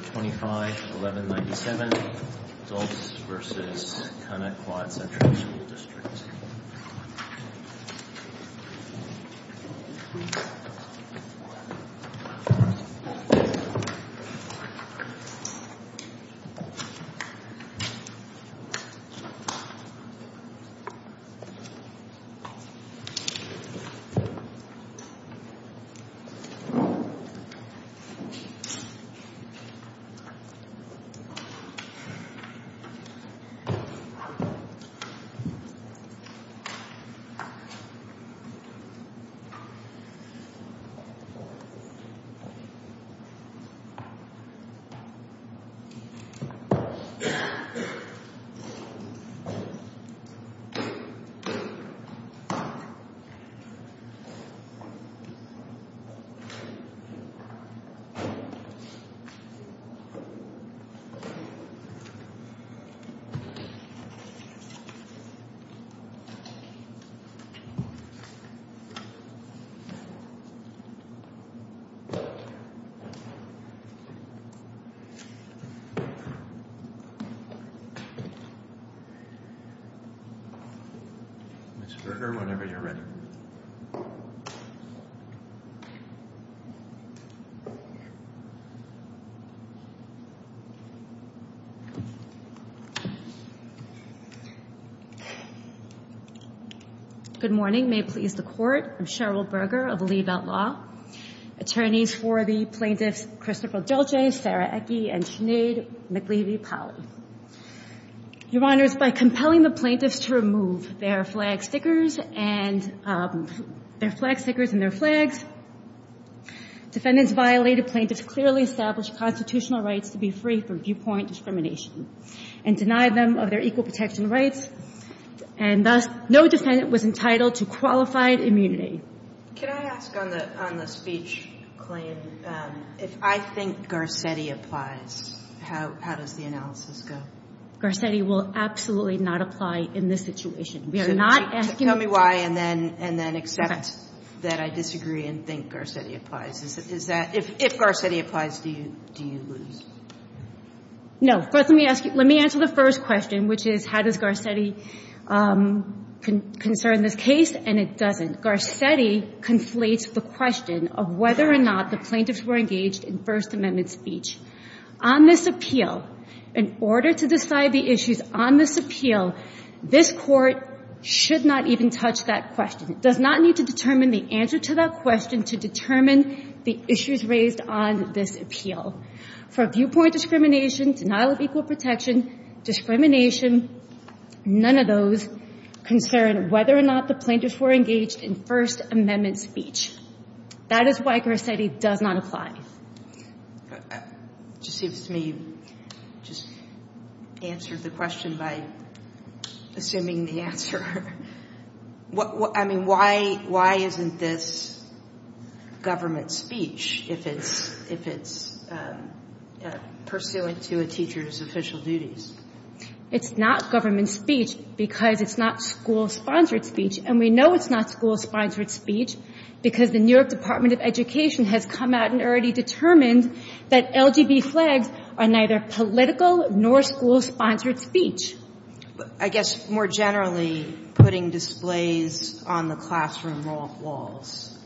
25 1197 Connetquot Central School District 25 1197 Connetquot Central School District 25 1197 Connetquot Central School District 25 1197 Connetquot Central School District 25 1197 Connetquot Central School District Good morning. May it please the court. I'm Cheryl Berger of the Lee Belt Law. Attorneys for the plaintiffs, Christopher Dolce, Sara Ecke, and Sinead McLeary-Powley. Your honors, by compelling the plaintiffs to remove their flag stickers and their flags, defendants violated plaintiffs' clearly established constitutional rights to be free from viewpoint discrimination and denied them of their equal protection rights. And thus, no defendant was entitled to qualified immunity. Could I ask on the speech claim, if I think Garcetti applies, how does the analysis go? Garcetti will absolutely not apply in this situation. We are not asking you to. Tell me why, and then accept that I disagree and think Garcetti applies. If Garcetti applies, do you lose? No. First, let me ask you, let me answer the first question, which is, how does Garcetti concern this case? And it doesn't. Garcetti conflates the question of whether or not the plaintiffs were engaged in First Amendment speech. On this appeal, in order to decide the issues on this appeal, this court should not even touch that question. It does not need to determine the answer to that question to determine the issues raised on this appeal. For viewpoint discrimination, denial of equal protection, discrimination, none of those concern whether or not the plaintiffs were engaged in First Amendment speech. That is why Garcetti does not apply. Just seems to me you just answered the question by assuming the answer. I mean, why isn't this government speech if it's pursuant to a teacher's official duties? It's not government speech because it's not school-sponsored speech. And we know it's not school-sponsored speech because the New York Department of Education has come out and already determined that LGB flags are neither political nor school-sponsored speech. I guess, more generally, putting displays on the classroom walls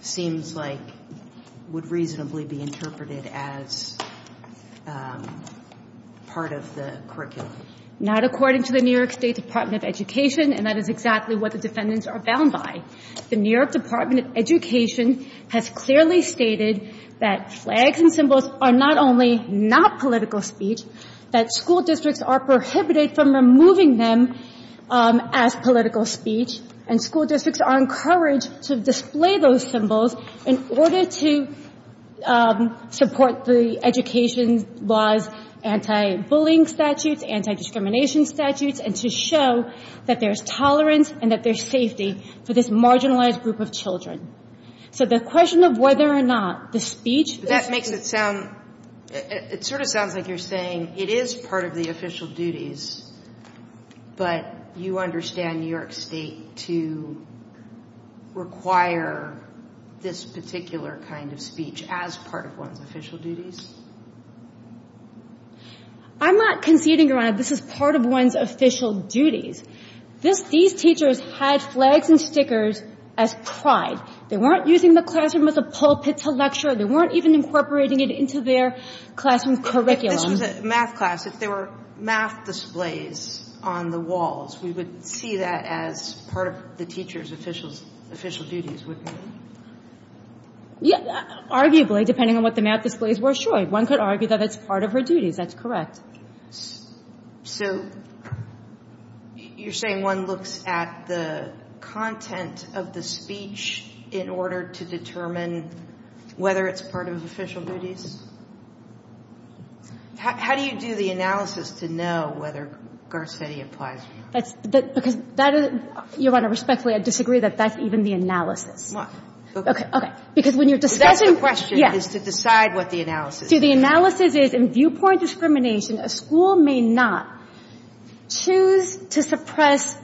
seems like would reasonably be interpreted as part of the curriculum. Not according to the New York State Department of Education, and that is exactly what the defendants are bound by. The New York Department of Education has clearly stated that flags and symbols are not only not political speech, that school districts are prohibited from removing them as political speech, and school districts are encouraged to display those symbols in order to support the education laws, anti-bullying statutes, anti-discrimination statutes, and to show that there's tolerance and that there's safety for this marginalized group of children. So the question of whether or not the speech is That makes it sound, it sort of sounds like you're saying, it is part of the official duties, but you understand New York State to require this particular kind of speech as part of one's official duties? I'm not conceding, Your Honor, this is part of one's official duties. These teachers had flags and stickers as pride. They weren't using the classroom as a pulpit to lecture. They weren't even incorporating it into their classroom curriculum. If this was a math class, if there were math displays on the walls, we would see that as part of the teacher's official duties, wouldn't we? Yeah, arguably, depending on what the math displays were, sure, one could argue that it's part of her duties. That's correct. So you're saying one looks at the content of the speech in order to determine whether it's part of his official duties? How do you do the analysis to know whether Garseveti applies or not? Because that is, Your Honor, respectfully, I disagree that that's even the analysis. Why? OK, because when you're discussing That's the question, is to decide what the analysis is. The analysis is in viewpoint discrimination, a school may not choose to suppress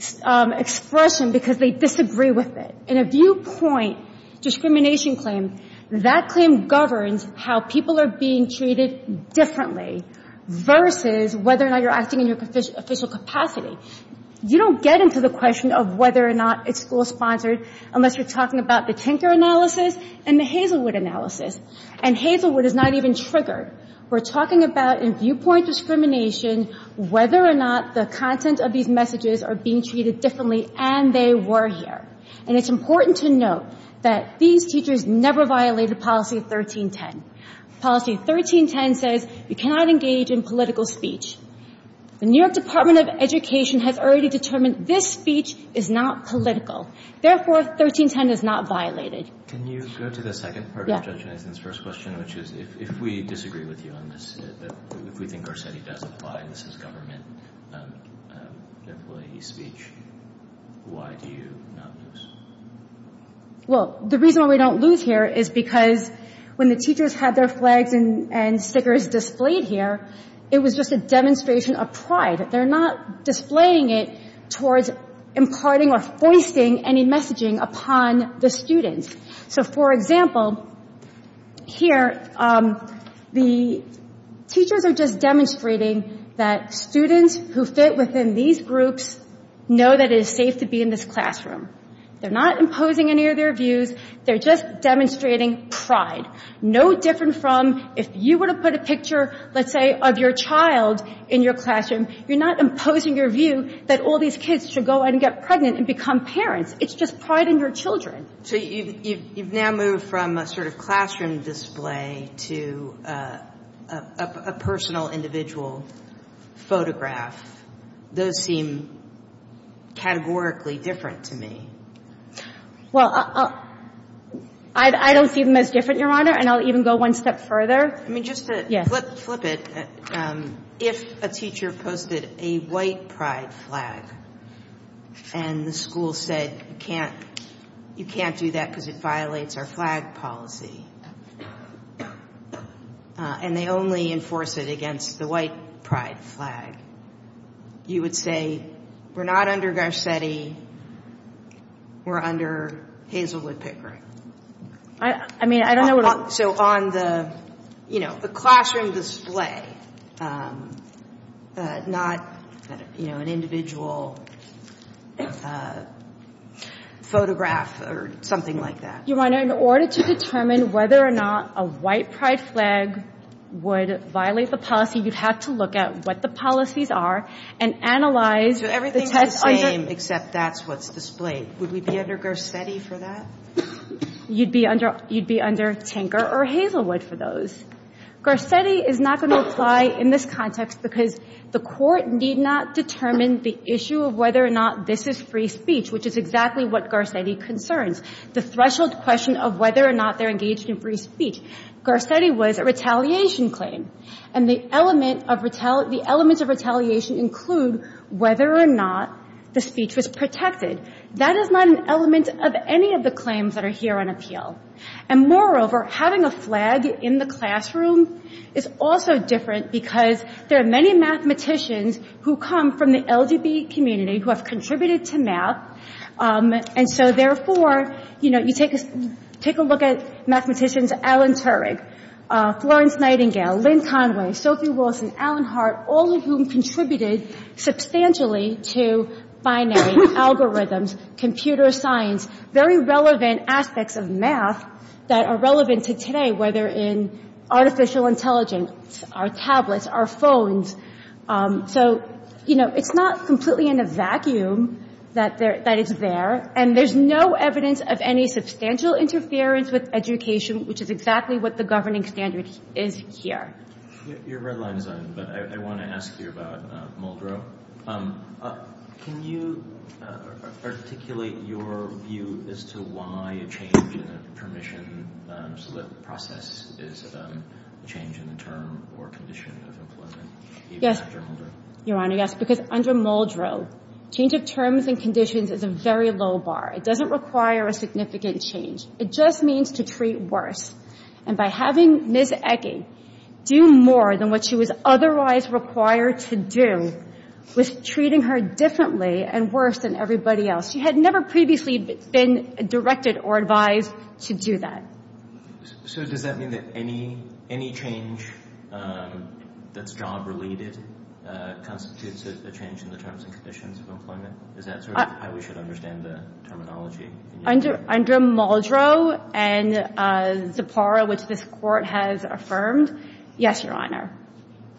expression because they disagree with it. In a viewpoint discrimination claim, that claim governs how people are being treated differently versus whether or not you're acting in your official capacity. You don't get into the question of whether or not it's school-sponsored unless you're talking about the Tinker analysis and the Hazelwood analysis. And Hazelwood is not even triggered. We're talking about, in viewpoint discrimination, whether or not the content of these messages are being treated differently, and they were here. And it's important to note that these teachers never violated policy 1310. Policy 1310 says you cannot engage in political speech. The New York Department of Education has already determined this speech is not political. Therefore, 1310 is not violated. Can you go to the second part of Judge Eisen's first question, which is, if we disagree with you on this, if we think Garseveti does apply, this is government employee speech, why do you not lose? Well, the reason we don't lose here is because when the teachers had their flags and stickers displayed here, it was just a demonstration of pride. They're not displaying it towards imparting or foisting any messaging upon the students. So for example, here, the teachers are just demonstrating that students who fit within these groups know that it is safe to be in this classroom. They're not imposing any of their views. They're just demonstrating pride. No different from if you were to put a picture, let's say, of your child in your classroom, you're not imposing your view that all these kids should go and get pregnant and become parents. It's just pride in your children. So you've now moved from a sort of classroom display to a personal individual photograph. Those seem categorically different to me. Well, I don't see them as different, Your Honor. And I'll even go one step further. I mean, just to flip it, if a teacher posted a white pride flag and the school said, you can't do that because it violates our flag policy, and they only enforce it against the white pride flag, you would say, we're not under Garcetti. We're under Hazelwood Pickering. I mean, I don't know what I'm. So on the classroom display, not an individual photograph or something like that. Your Honor, in order to determine whether or not a white pride flag would violate the policy, you'd have to look at what the policies are and analyze the test under. So everything's the same except that's what's displayed. Would we be under Garcetti for that? You'd be under Tinker or Hazelwood for those. Garcetti is not going to apply in this context because the court need not determine the issue of whether or not this is free speech, which is exactly what Garcetti concerns. The threshold question of whether or not they're engaged in free speech. Garcetti was a retaliation claim. And the elements of retaliation include whether or not the speech was protected. That is not an element of any of the claims that are here on appeal. And moreover, having a flag in the classroom is also different because there are many mathematicians who come from the LGBT community who have contributed to math. And so therefore, you take a look at mathematicians Alan Turing, Florence Nightingale, Lynn Conway, Sophie Wilson, Alan Hart, all of whom contributed substantially to binary algorithms, computer science, very relevant aspects of math that are relevant to today, whether in artificial intelligence, our tablets, our phones. So it's not completely in a vacuum that it's there. And there's no evidence of any substantial interference with education, which is exactly what the governing standard is here. Your red line is on, but I want to ask you about Muldrow. Can you articulate your view as to why a change in a permission process is a change in the term or condition of employment, even under Muldrow? Your Honor, yes, because under Muldrow, change of terms and conditions is a very low bar. It doesn't require a significant change. It just means to treat worse. And by having Ms. Ecke do more than what she was otherwise required to do was treating her differently and worse than everybody else. She had never previously been directed or advised to do that. So does that mean that any change that's job-related constitutes a change in the terms and conditions of employment? Is that sort of how we should understand the terminology? Under Muldrow and Zipporah, which this court has affirmed, yes, Your Honor,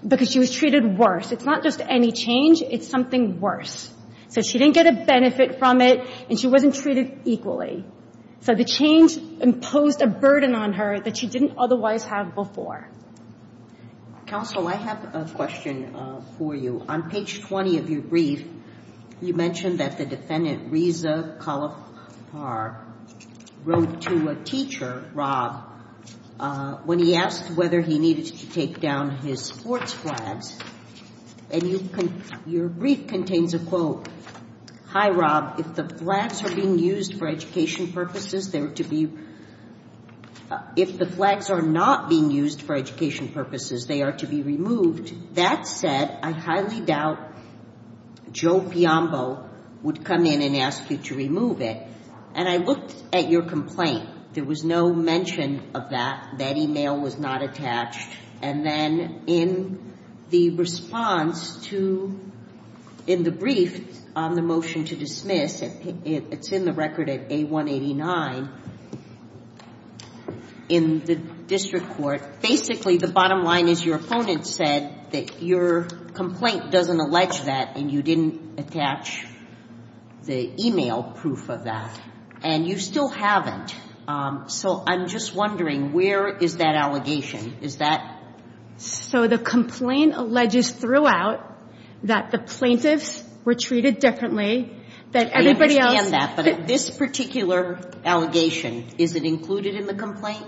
because she was treated worse. It's not just any change. It's something worse. So she didn't get a benefit from it, and she wasn't treated equally. So the change imposed a burden on her that she didn't otherwise have before. Counsel, I have a question for you. On page 20 of your brief, you mentioned that the defendant, Reza Kalafar, wrote to a teacher, Rob, when he asked whether he needed to take down his sports flags. And your brief contains a quote. Hi, Rob. If the flags are not being used for education purposes, they are to be removed. That said, I highly doubt Joe Piombo would come in and ask you to remove it. And I looked at your complaint. There was no mention of that. That email was not attached. And then in the response to, in the brief on the motion to dismiss, it's in the record at A189 in the district court. Basically, the bottom line is your opponent said that your complaint doesn't allege that, and you didn't attach the email proof of that. And you still haven't. So I'm just wondering, where is that allegation? So the complaint alleges throughout that the plaintiffs were treated differently, that everybody else. I understand that, but this particular allegation, is it included in the complaint?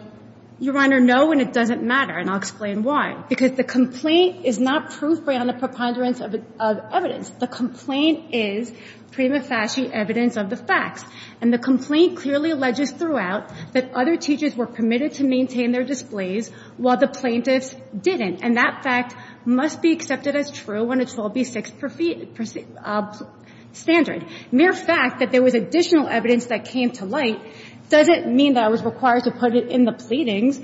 Your Honor, no, and it doesn't matter. And I'll explain why. Because the complaint is not proof beyond the preponderance of evidence. The complaint is prima facie evidence of the facts. And the complaint clearly alleges throughout that other teachers were permitted to maintain their displays while the plaintiffs didn't. And that fact must be accepted as true when it's 12B6 standard. Mere fact that there was additional evidence that came to light doesn't mean that I was required to put it in the pleadings.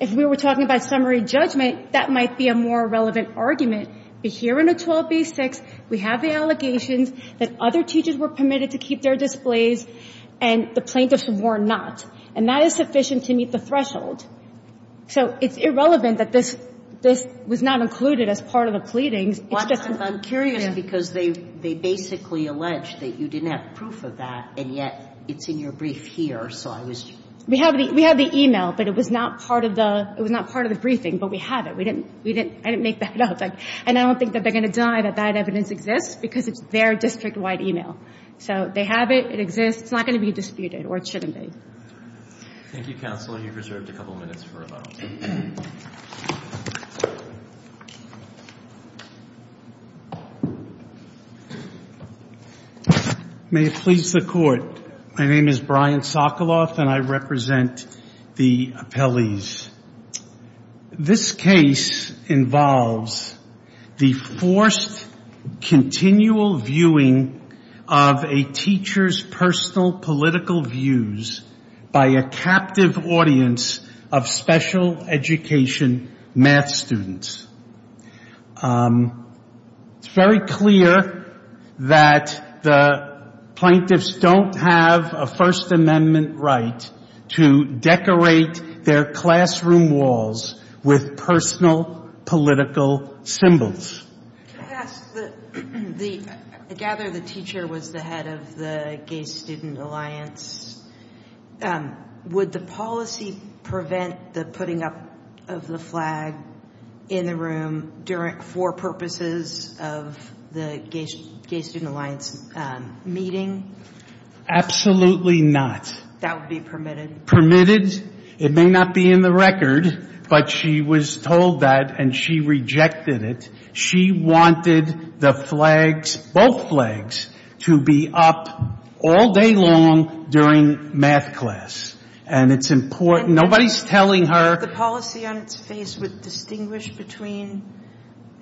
If we were talking about summary judgment, that might be a more relevant argument. But here in the 12B6, we have the allegations that other teachers were permitted to keep their displays and the plaintiffs were not. And that is sufficient to meet the threshold. So it's irrelevant that this was not included as part of the pleadings. Well, I'm curious, because they basically allege that you didn't have proof of that, and yet it's in your brief here, so I was just. We have the email, but it was not part of the briefing. But we have it. I didn't make that up. And I don't think that they're going to deny that that evidence exists, because it's their district-wide email. So they have it, it exists, it's not going to be disputed or it shouldn't be. Thank you, Counselor. You've reserved a couple of minutes for rebuttal. May it please the Court. My name is Brian Sokoloff, and I represent the appellees. This case involves the forced continual viewing of a teacher's personal political views by a captive audience of special education math students. It's very clear that the plaintiffs don't have a First Amendment right to decorate their classroom walls with personal political symbols. Can I ask, I gather the teacher was the head of the Gay Student Alliance. Would the policy prevent the putting up of the flag in the room for purposes of the Gay Student Alliance meeting? Absolutely not. That would be permitted. Permitted. It may not be in the record, but she was told that and she rejected it. She wanted the flags, both flags, to be up all day long during math class. And it's important. Nobody's telling her. The policy on its face would distinguish between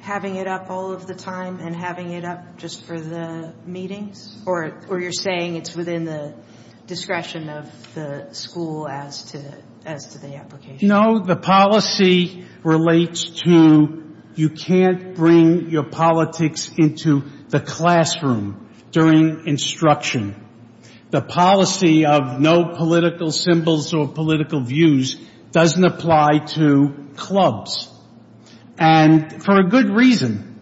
having it up all of the time and having it up just for the meetings? Or you're saying it's within the discretion of the school as to the application? The policy relates to you can't bring your politics into the classroom during instruction. The policy of no political symbols or political views doesn't apply to clubs. And for a good reason.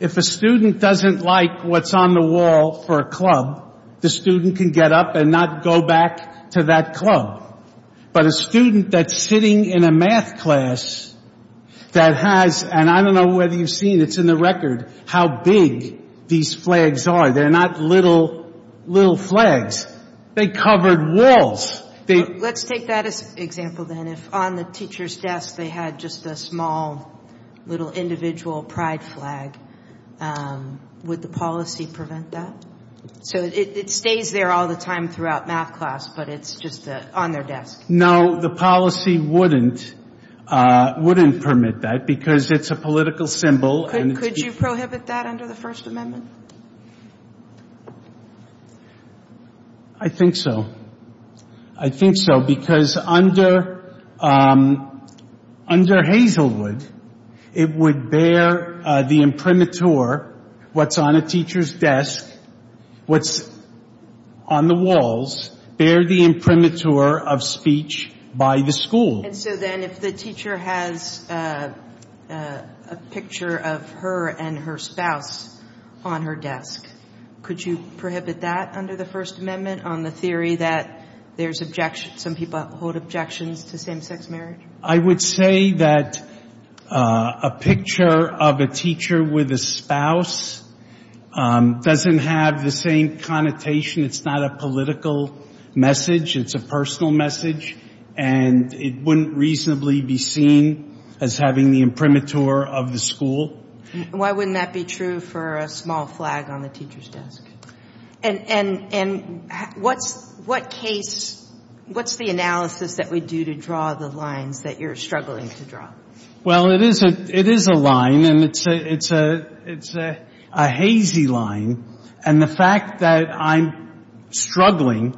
If a student doesn't like what's on the wall for a club, the student can get up and not go back to that club. But a student that's sitting in a math class that has, and I don't know whether you've seen, it's in the record, how big these flags are. They're not little flags. They covered walls. Let's take that as an example then. If on the teacher's desk they had just a small little individual pride flag, would the policy prevent that? So it stays there all the time throughout math class, but it's just on their desk. No, the policy wouldn't permit that, because it's a political symbol. Could you prohibit that under the First Amendment? I think so. I think so, because under Hazelwood, it would bear the imprimatur, what's on a teacher's desk, what's on the walls, bear the imprimatur of speech by the school. And so then if the teacher has a picture of her and her spouse on her desk, could you prohibit that under the First Amendment on the theory that there's objection, some people hold objections to same-sex marriage? I would say that a picture of a teacher with a spouse doesn't have the same connotation. It's not a political message. It's a personal message, and it wouldn't reasonably be seen as having the imprimatur of the school. Why wouldn't that be true for a small flag on the teacher's desk? And what's the analysis that we do to draw the lines that you're struggling to draw? Well, it is a line, and it's a hazy line. And the fact that I'm struggling,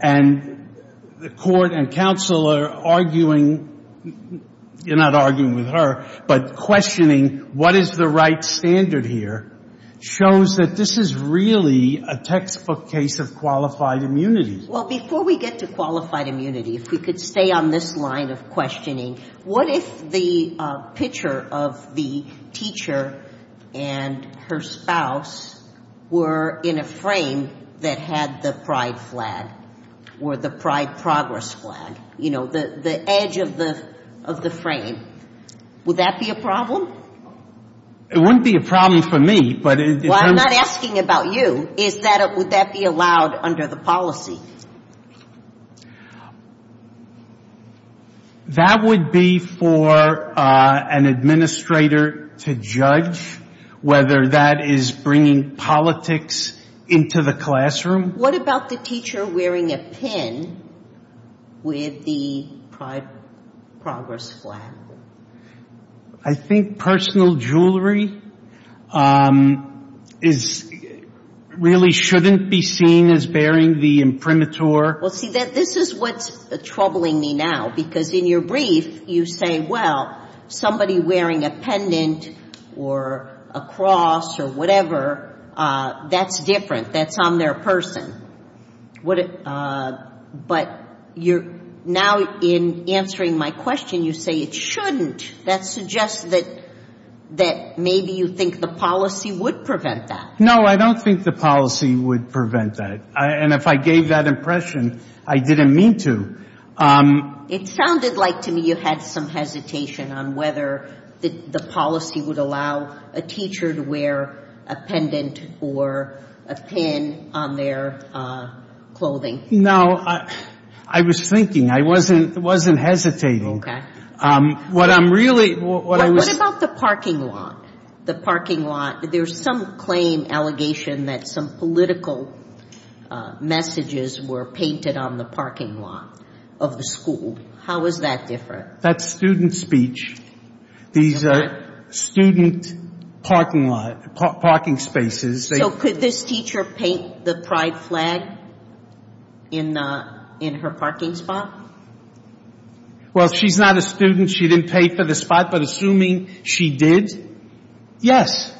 and the court and counsel are arguing, you're not arguing with her, but questioning what is the right standard here, shows that this is really a textbook case of qualified immunity. Well, before we get to qualified immunity, if we could stay on this line of questioning, what if the picture of the teacher and her spouse were in a frame that had the pride flag, or the pride progress flag, you know, the edge of the frame? Would that be a problem? It wouldn't be a problem for me, but if I'm Well, I'm not asking about you. Would that be allowed under the policy? Well, that would be for an administrator to judge whether that is bringing politics into the classroom. What about the teacher wearing a pin with the pride progress flag? I think personal jewelry really shouldn't be seen as bearing the imprimatur. Well, see, this is what's troubling me now, because in your brief, you say, well, somebody wearing a pendant, or a cross, or whatever, that's different. That's on their person. But now in answering my question, you say it shouldn't. That suggests that maybe you think the policy would prevent that. No, I don't think the policy would prevent that. And if I gave that impression, I didn't mean to. It sounded like to me you had some hesitation on whether the policy would allow a teacher to wear a pendant or a pin on their clothing. No, I was thinking. I wasn't hesitating. What I'm really What about the parking lot? The parking lot, there's some claim, allegation that some political messages were painted on the parking lot of the school. How is that different? That's student speech. These are student parking spaces. So could this teacher paint the pride flag in her parking spot? Well, she's not a student. She didn't pay for the spot. But assuming she did, yes.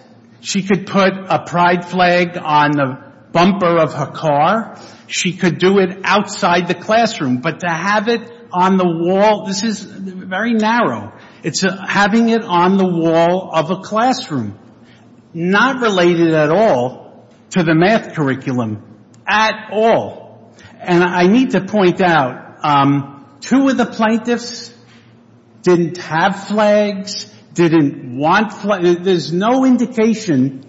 She could put a pride flag on the bumper of her car. She could do it outside the classroom. But to have it on the wall, this is very narrow. It's having it on the wall of a classroom, not related at all to the math curriculum, at all. And I need to point out, two of the plaintiffs didn't have flags, didn't want flags. There's no indication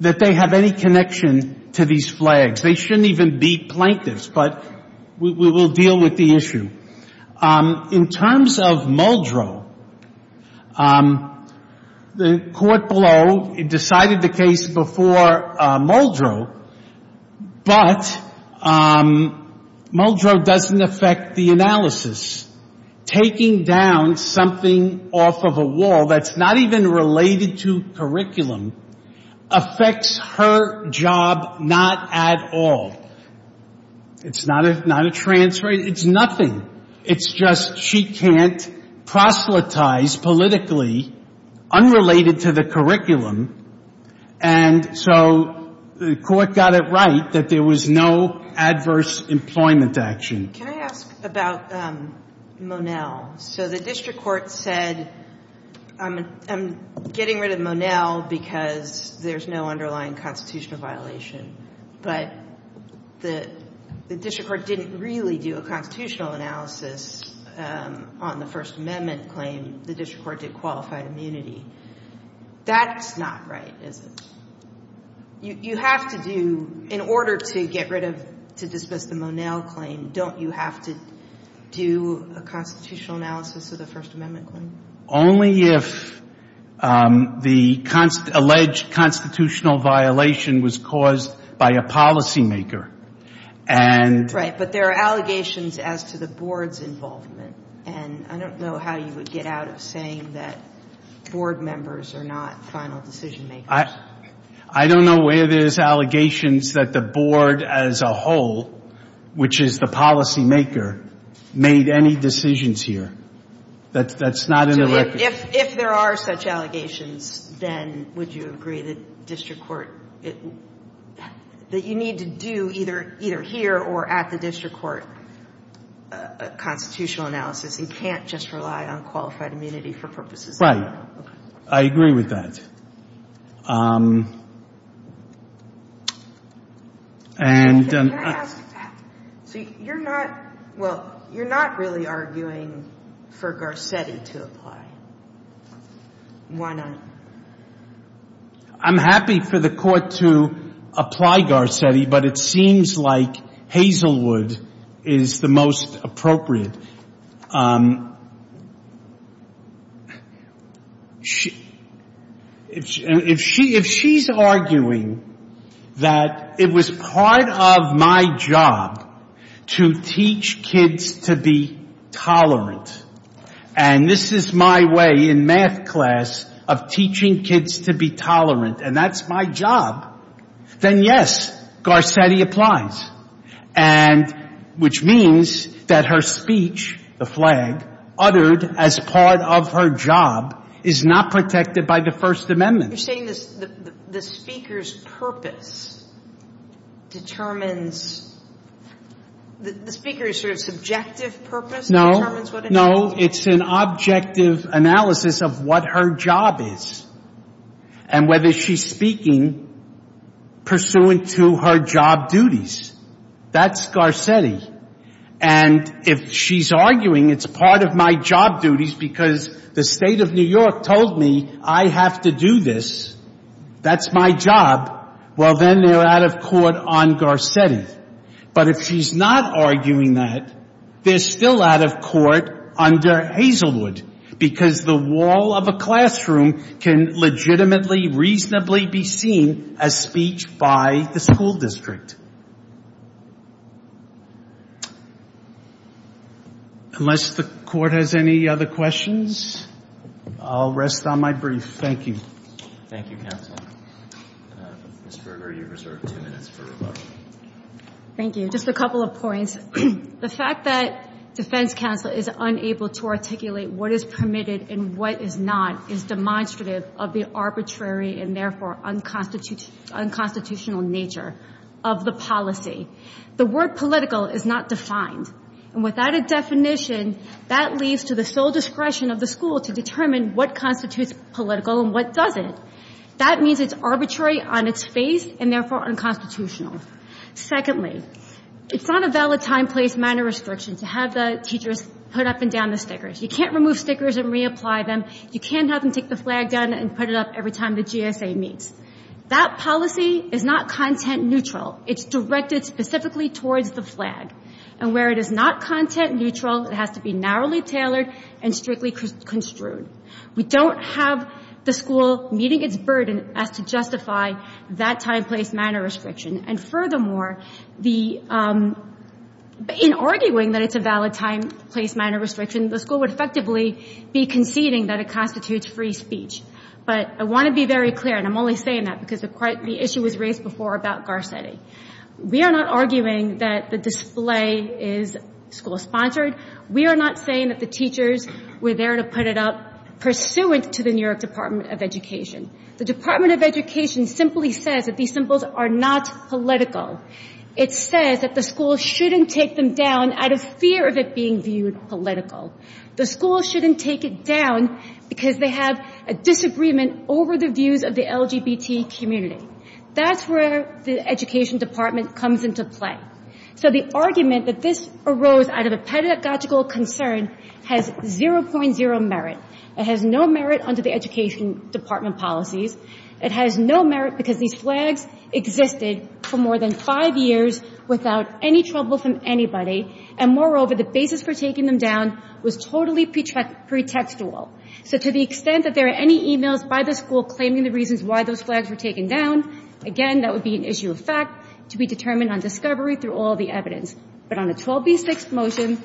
that they have any connection to these flags. They shouldn't even be plaintiffs. But we will deal with the issue. In terms of Muldrow, the court below decided the case before Muldrow, but Muldrow doesn't affect the analysis. Taking down something off of a wall that's not even related to curriculum affects her job not at all. It's not a transfer. It's nothing. It's just she can't proselytize politically unrelated to the curriculum. And so the court got it right that there was no adverse employment action. Can I ask about Monell? So the district court said, I'm getting rid of Monell because there's no underlying constitutional violation. But the district court didn't really do a constitutional analysis on the First Amendment claim. The district court did qualified immunity. That's not right, is it? You have to do, in order to get rid of, to dismiss the Monell claim, don't you have to do a constitutional analysis of the First Amendment claim? Only if the alleged constitutional violation was caused by a policymaker. Right, but there are allegations as to the board's involvement. And I don't know how you would get out of saying that board members are not final decision makers. I don't know where there's allegations that the board as a whole, which is the policymaker, made any decisions here. That's not in the record. If there are such allegations, then would you agree that district court, that you need to do either here or at the district court constitutional analysis? You can't just rely on qualified immunity for purposes of law. I agree with that. And I'm going to ask, so you're not, well, you're not really arguing for Garcetti to apply. Why not? I'm happy for the court to apply Garcetti, but it seems like Hazelwood is the most appropriate. If she's arguing that it was part of my job to teach kids to be tolerant, and this is my way in math class of teaching kids to be tolerant, and that's my job, then yes, Garcetti applies, which means that her speech, the flag, uttered as part of her job is not protected by the First Amendment. You're saying the speaker's purpose determines, the speaker's sort of subjective purpose determines what it is? No, it's an objective analysis of what her job is and whether she's speaking pursuant to her job duties. That's Garcetti. And if she's arguing it's part of my job duties because the state of New York told me I have to do this, that's my job, well, then they're out of court on Garcetti. But if she's not arguing that, they're still out of court under Hazelwood because the wall of a classroom can legitimately, reasonably be seen as speech by the school district. Unless the court has any other questions, I'll rest on my brief. Thank you. Thank you, counsel. Ms. Berger, you're reserved two minutes for rebuttal. Thank you. Just a couple of points. The fact that defense counsel is unable to articulate what is permitted and what is not is demonstrative of the arbitrary and therefore unconstitutional nature of the policy. The word political is not defined. And without a definition, that leads to the sole discretion of the school to determine what constitutes political and what doesn't. That means it's arbitrary on its face and therefore unconstitutional. Secondly, it's not a valid time, place, manner restriction to have the teachers put up and down the stickers. You can't remove stickers and reapply them. You can't have them take the flag down and put it up every time the GSA meets. That policy is not content neutral. It's directed specifically towards the flag. And where it is not content neutral, it has to be narrowly tailored and strictly construed. We don't have the school meeting its burden as to justify that time, place, manner restriction. And furthermore, in arguing that it's a valid time, place, manner restriction, the school would effectively be conceding that it constitutes free speech. But I want to be very clear, and I'm only saying that because the issue was raised before about Garcetti. We are not arguing that the display is school sponsored. We are not saying that the teachers were there to put it up pursuant to the New York Department of Education. The Department of Education simply says that these symbols are not political. It says that the school shouldn't take them down out of fear of it being viewed political. The school shouldn't take it down because they have a disagreement over the views of the LGBT community. That's where the Education Department comes into play. So the argument that this arose out of a pedagogical concern has 0.0 merit. It has no merit under the Education Department policies. It has no merit because these flags existed for more than five years without any trouble from anybody. And moreover, the basis for taking them down was totally pretextual. So to the extent that there are any emails by the school claiming the reasons why those flags were taken down, again, that would be an issue of fact to be determined on discovery through all the evidence. But on a 12b6 motion,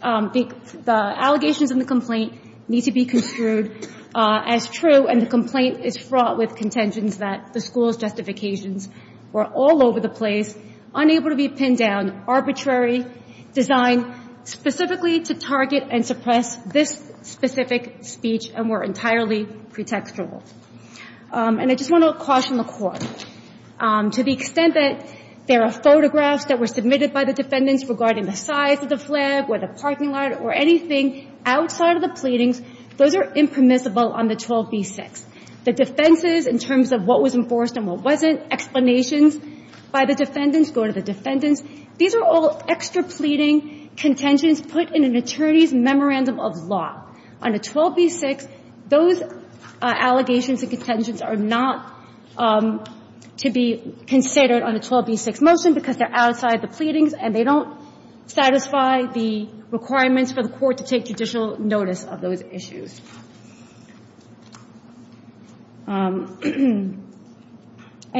the allegations in the complaint need to be construed as true. And the complaint is fraught with contentions that the school's justifications were all over the place, unable to be pinned down, arbitrary, designed specifically to target and suppress this specific speech, and were entirely pretextual. And I just want to caution the Court. To the extent that there are photographs that were submitted by the defendants regarding the size of the flag or the parking lot or anything outside of the pleadings, those are impermissible on the 12b6. The defenses in terms of what was enforced and what wasn't, explanations by the defendants go to the defendants. These are all extra pleading contentions put in an attorney's memorandum of law. On a 12b6, those allegations and contentions are not to be considered on a 12b6 motion because they're outside the pleadings, and they don't satisfy the requirements for the Court to take judicial notice of those issues. And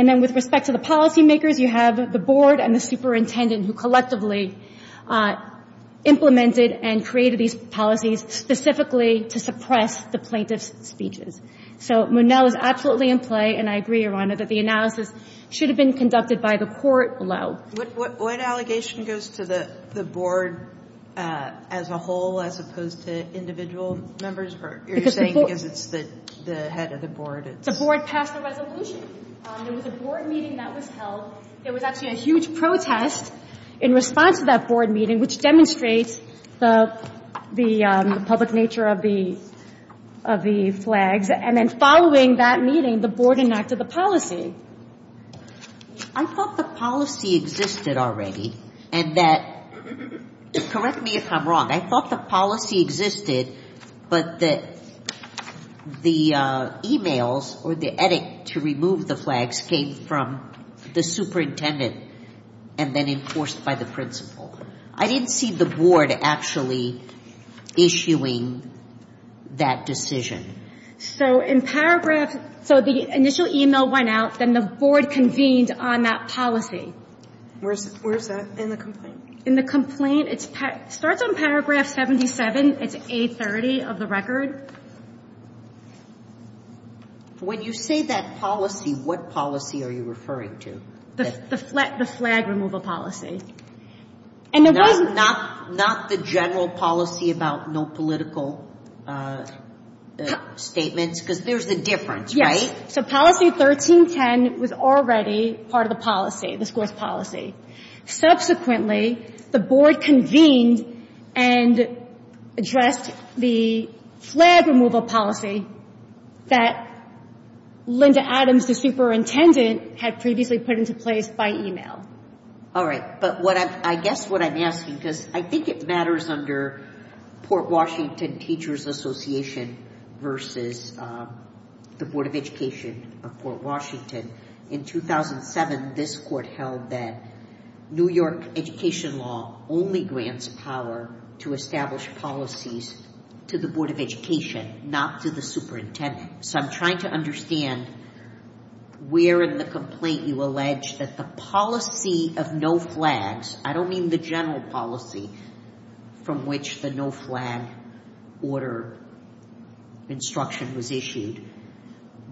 then with respect to the policymakers, you have the board and the superintendent who collectively implemented and created these policies specifically to suppress the plaintiff's speeches. So Monell is absolutely in play. And I agree, Your Honor, that the analysis should have been conducted by the Court alone. What allegation goes to the board as a whole as opposed to individual members? You're saying because it's the head of the board. The board passed a resolution. There was a board meeting that was held. There was actually a huge protest in response to that board meeting, which demonstrates the public nature of the flags. And then following that meeting, the board enacted the policy. I thought the policy existed already and that, correct me if I'm wrong, I thought the policy existed, but that the emails or the edict to remove the flags came from the superintendent and then enforced by the principal. I didn't see the board actually issuing that decision. So in paragraph, so the initial email went out. Then the board convened on that policy. Where is that in the complaint? In the complaint, it starts on paragraph 77. It's A30 of the record. When you say that policy, what policy are you referring to? The flag removal policy. And it wasn't. Not the general policy about no political statements, because there's a difference, right? So policy 1310 was already part of the policy, the scores policy. Subsequently, the board convened and addressed the flag removal policy that Linda Adams, the superintendent, had previously put into place by email. All right, but I guess what I'm asking, because I think it matters under Port Washington Teachers Association versus the Board of Education of Port Washington. In 2007, this court held that New York education law only grants power to establish policies to the Board of Education, not to the superintendent. So I'm trying to understand where in the complaint you allege that the policy of no flags, I don't mean the general policy from which the no flag order instruction was issued.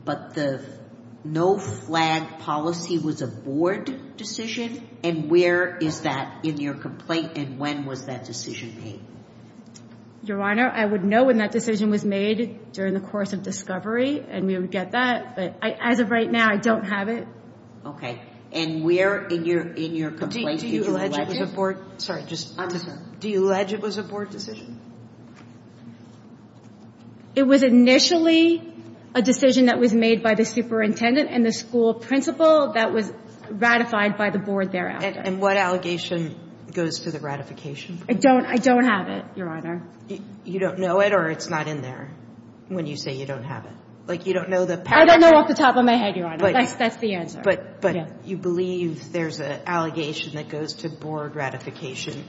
But the no flag policy was a board decision? And where is that in your complaint? And when was that decision made? Your Honor, I would know when that decision was made during the course of discovery. And we would get that. But as of right now, I don't have it. OK, and where in your complaint did you allege it was a board? Sorry, just understand. Do you allege it was a board decision? It was initially a decision that was made by the superintendent and the school principal that was ratified by the board thereafter. And what allegation goes to the ratification? I don't. I don't have it, Your Honor. You don't know it, or it's not in there when you say you don't have it? Like, you don't know the paragraph? I don't know off the top of my head, Your Honor. That's the answer. But you believe there's an allegation that goes to board ratification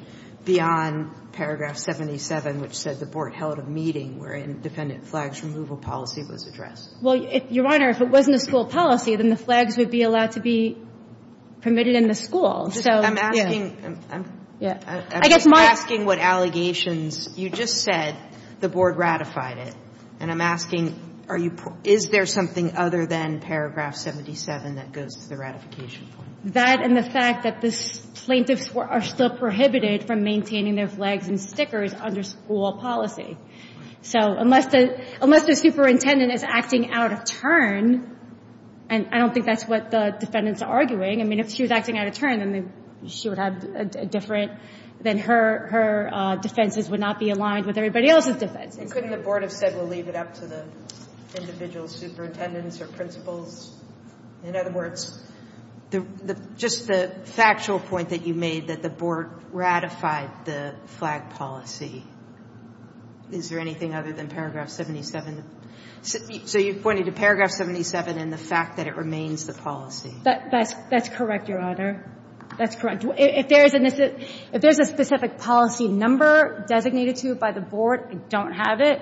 beyond paragraph 77, which says the board held a meeting where an independent flags removal policy was addressed? Well, Your Honor, if it wasn't a school policy, then the flags would be allowed to be permitted in the school. So, yeah. I'm asking what allegations. You just said the board ratified it. And I'm asking, is there something other than paragraph 77 that goes to the ratification point? That and the fact that the plaintiffs are still prohibited from maintaining their flags and stickers under school policy. So unless the superintendent is acting out of turn, and I don't think that's what the defendant's arguing. I mean, if she was acting out of turn, then she would have a different, then her defenses would not be aligned with everybody else's defenses. Couldn't the board have said, we'll leave it up to the individual superintendents or principals? In other words, just the factual point that you made that the board ratified the flag policy. Is there anything other than paragraph 77? So you're pointing to paragraph 77 and the fact that it remains the policy. That's correct, Your Honor. That's correct. If there is a specific policy number designated to it by the board, I don't have it.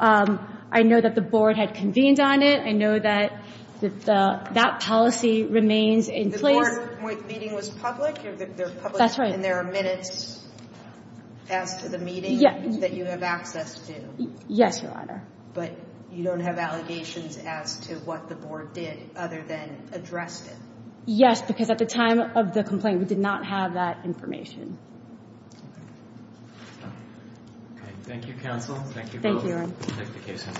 I know that the board had convened on it. I know that that policy remains in place. The board meeting was public? They're public and there are minutes as to the meeting that you have access to? Yes, Your Honor. But you don't have allegations as to what the board did other than addressed it? Yes, because at the time of the complaint, we did not have that information. Thank you, counsel. Thank you for the clarification.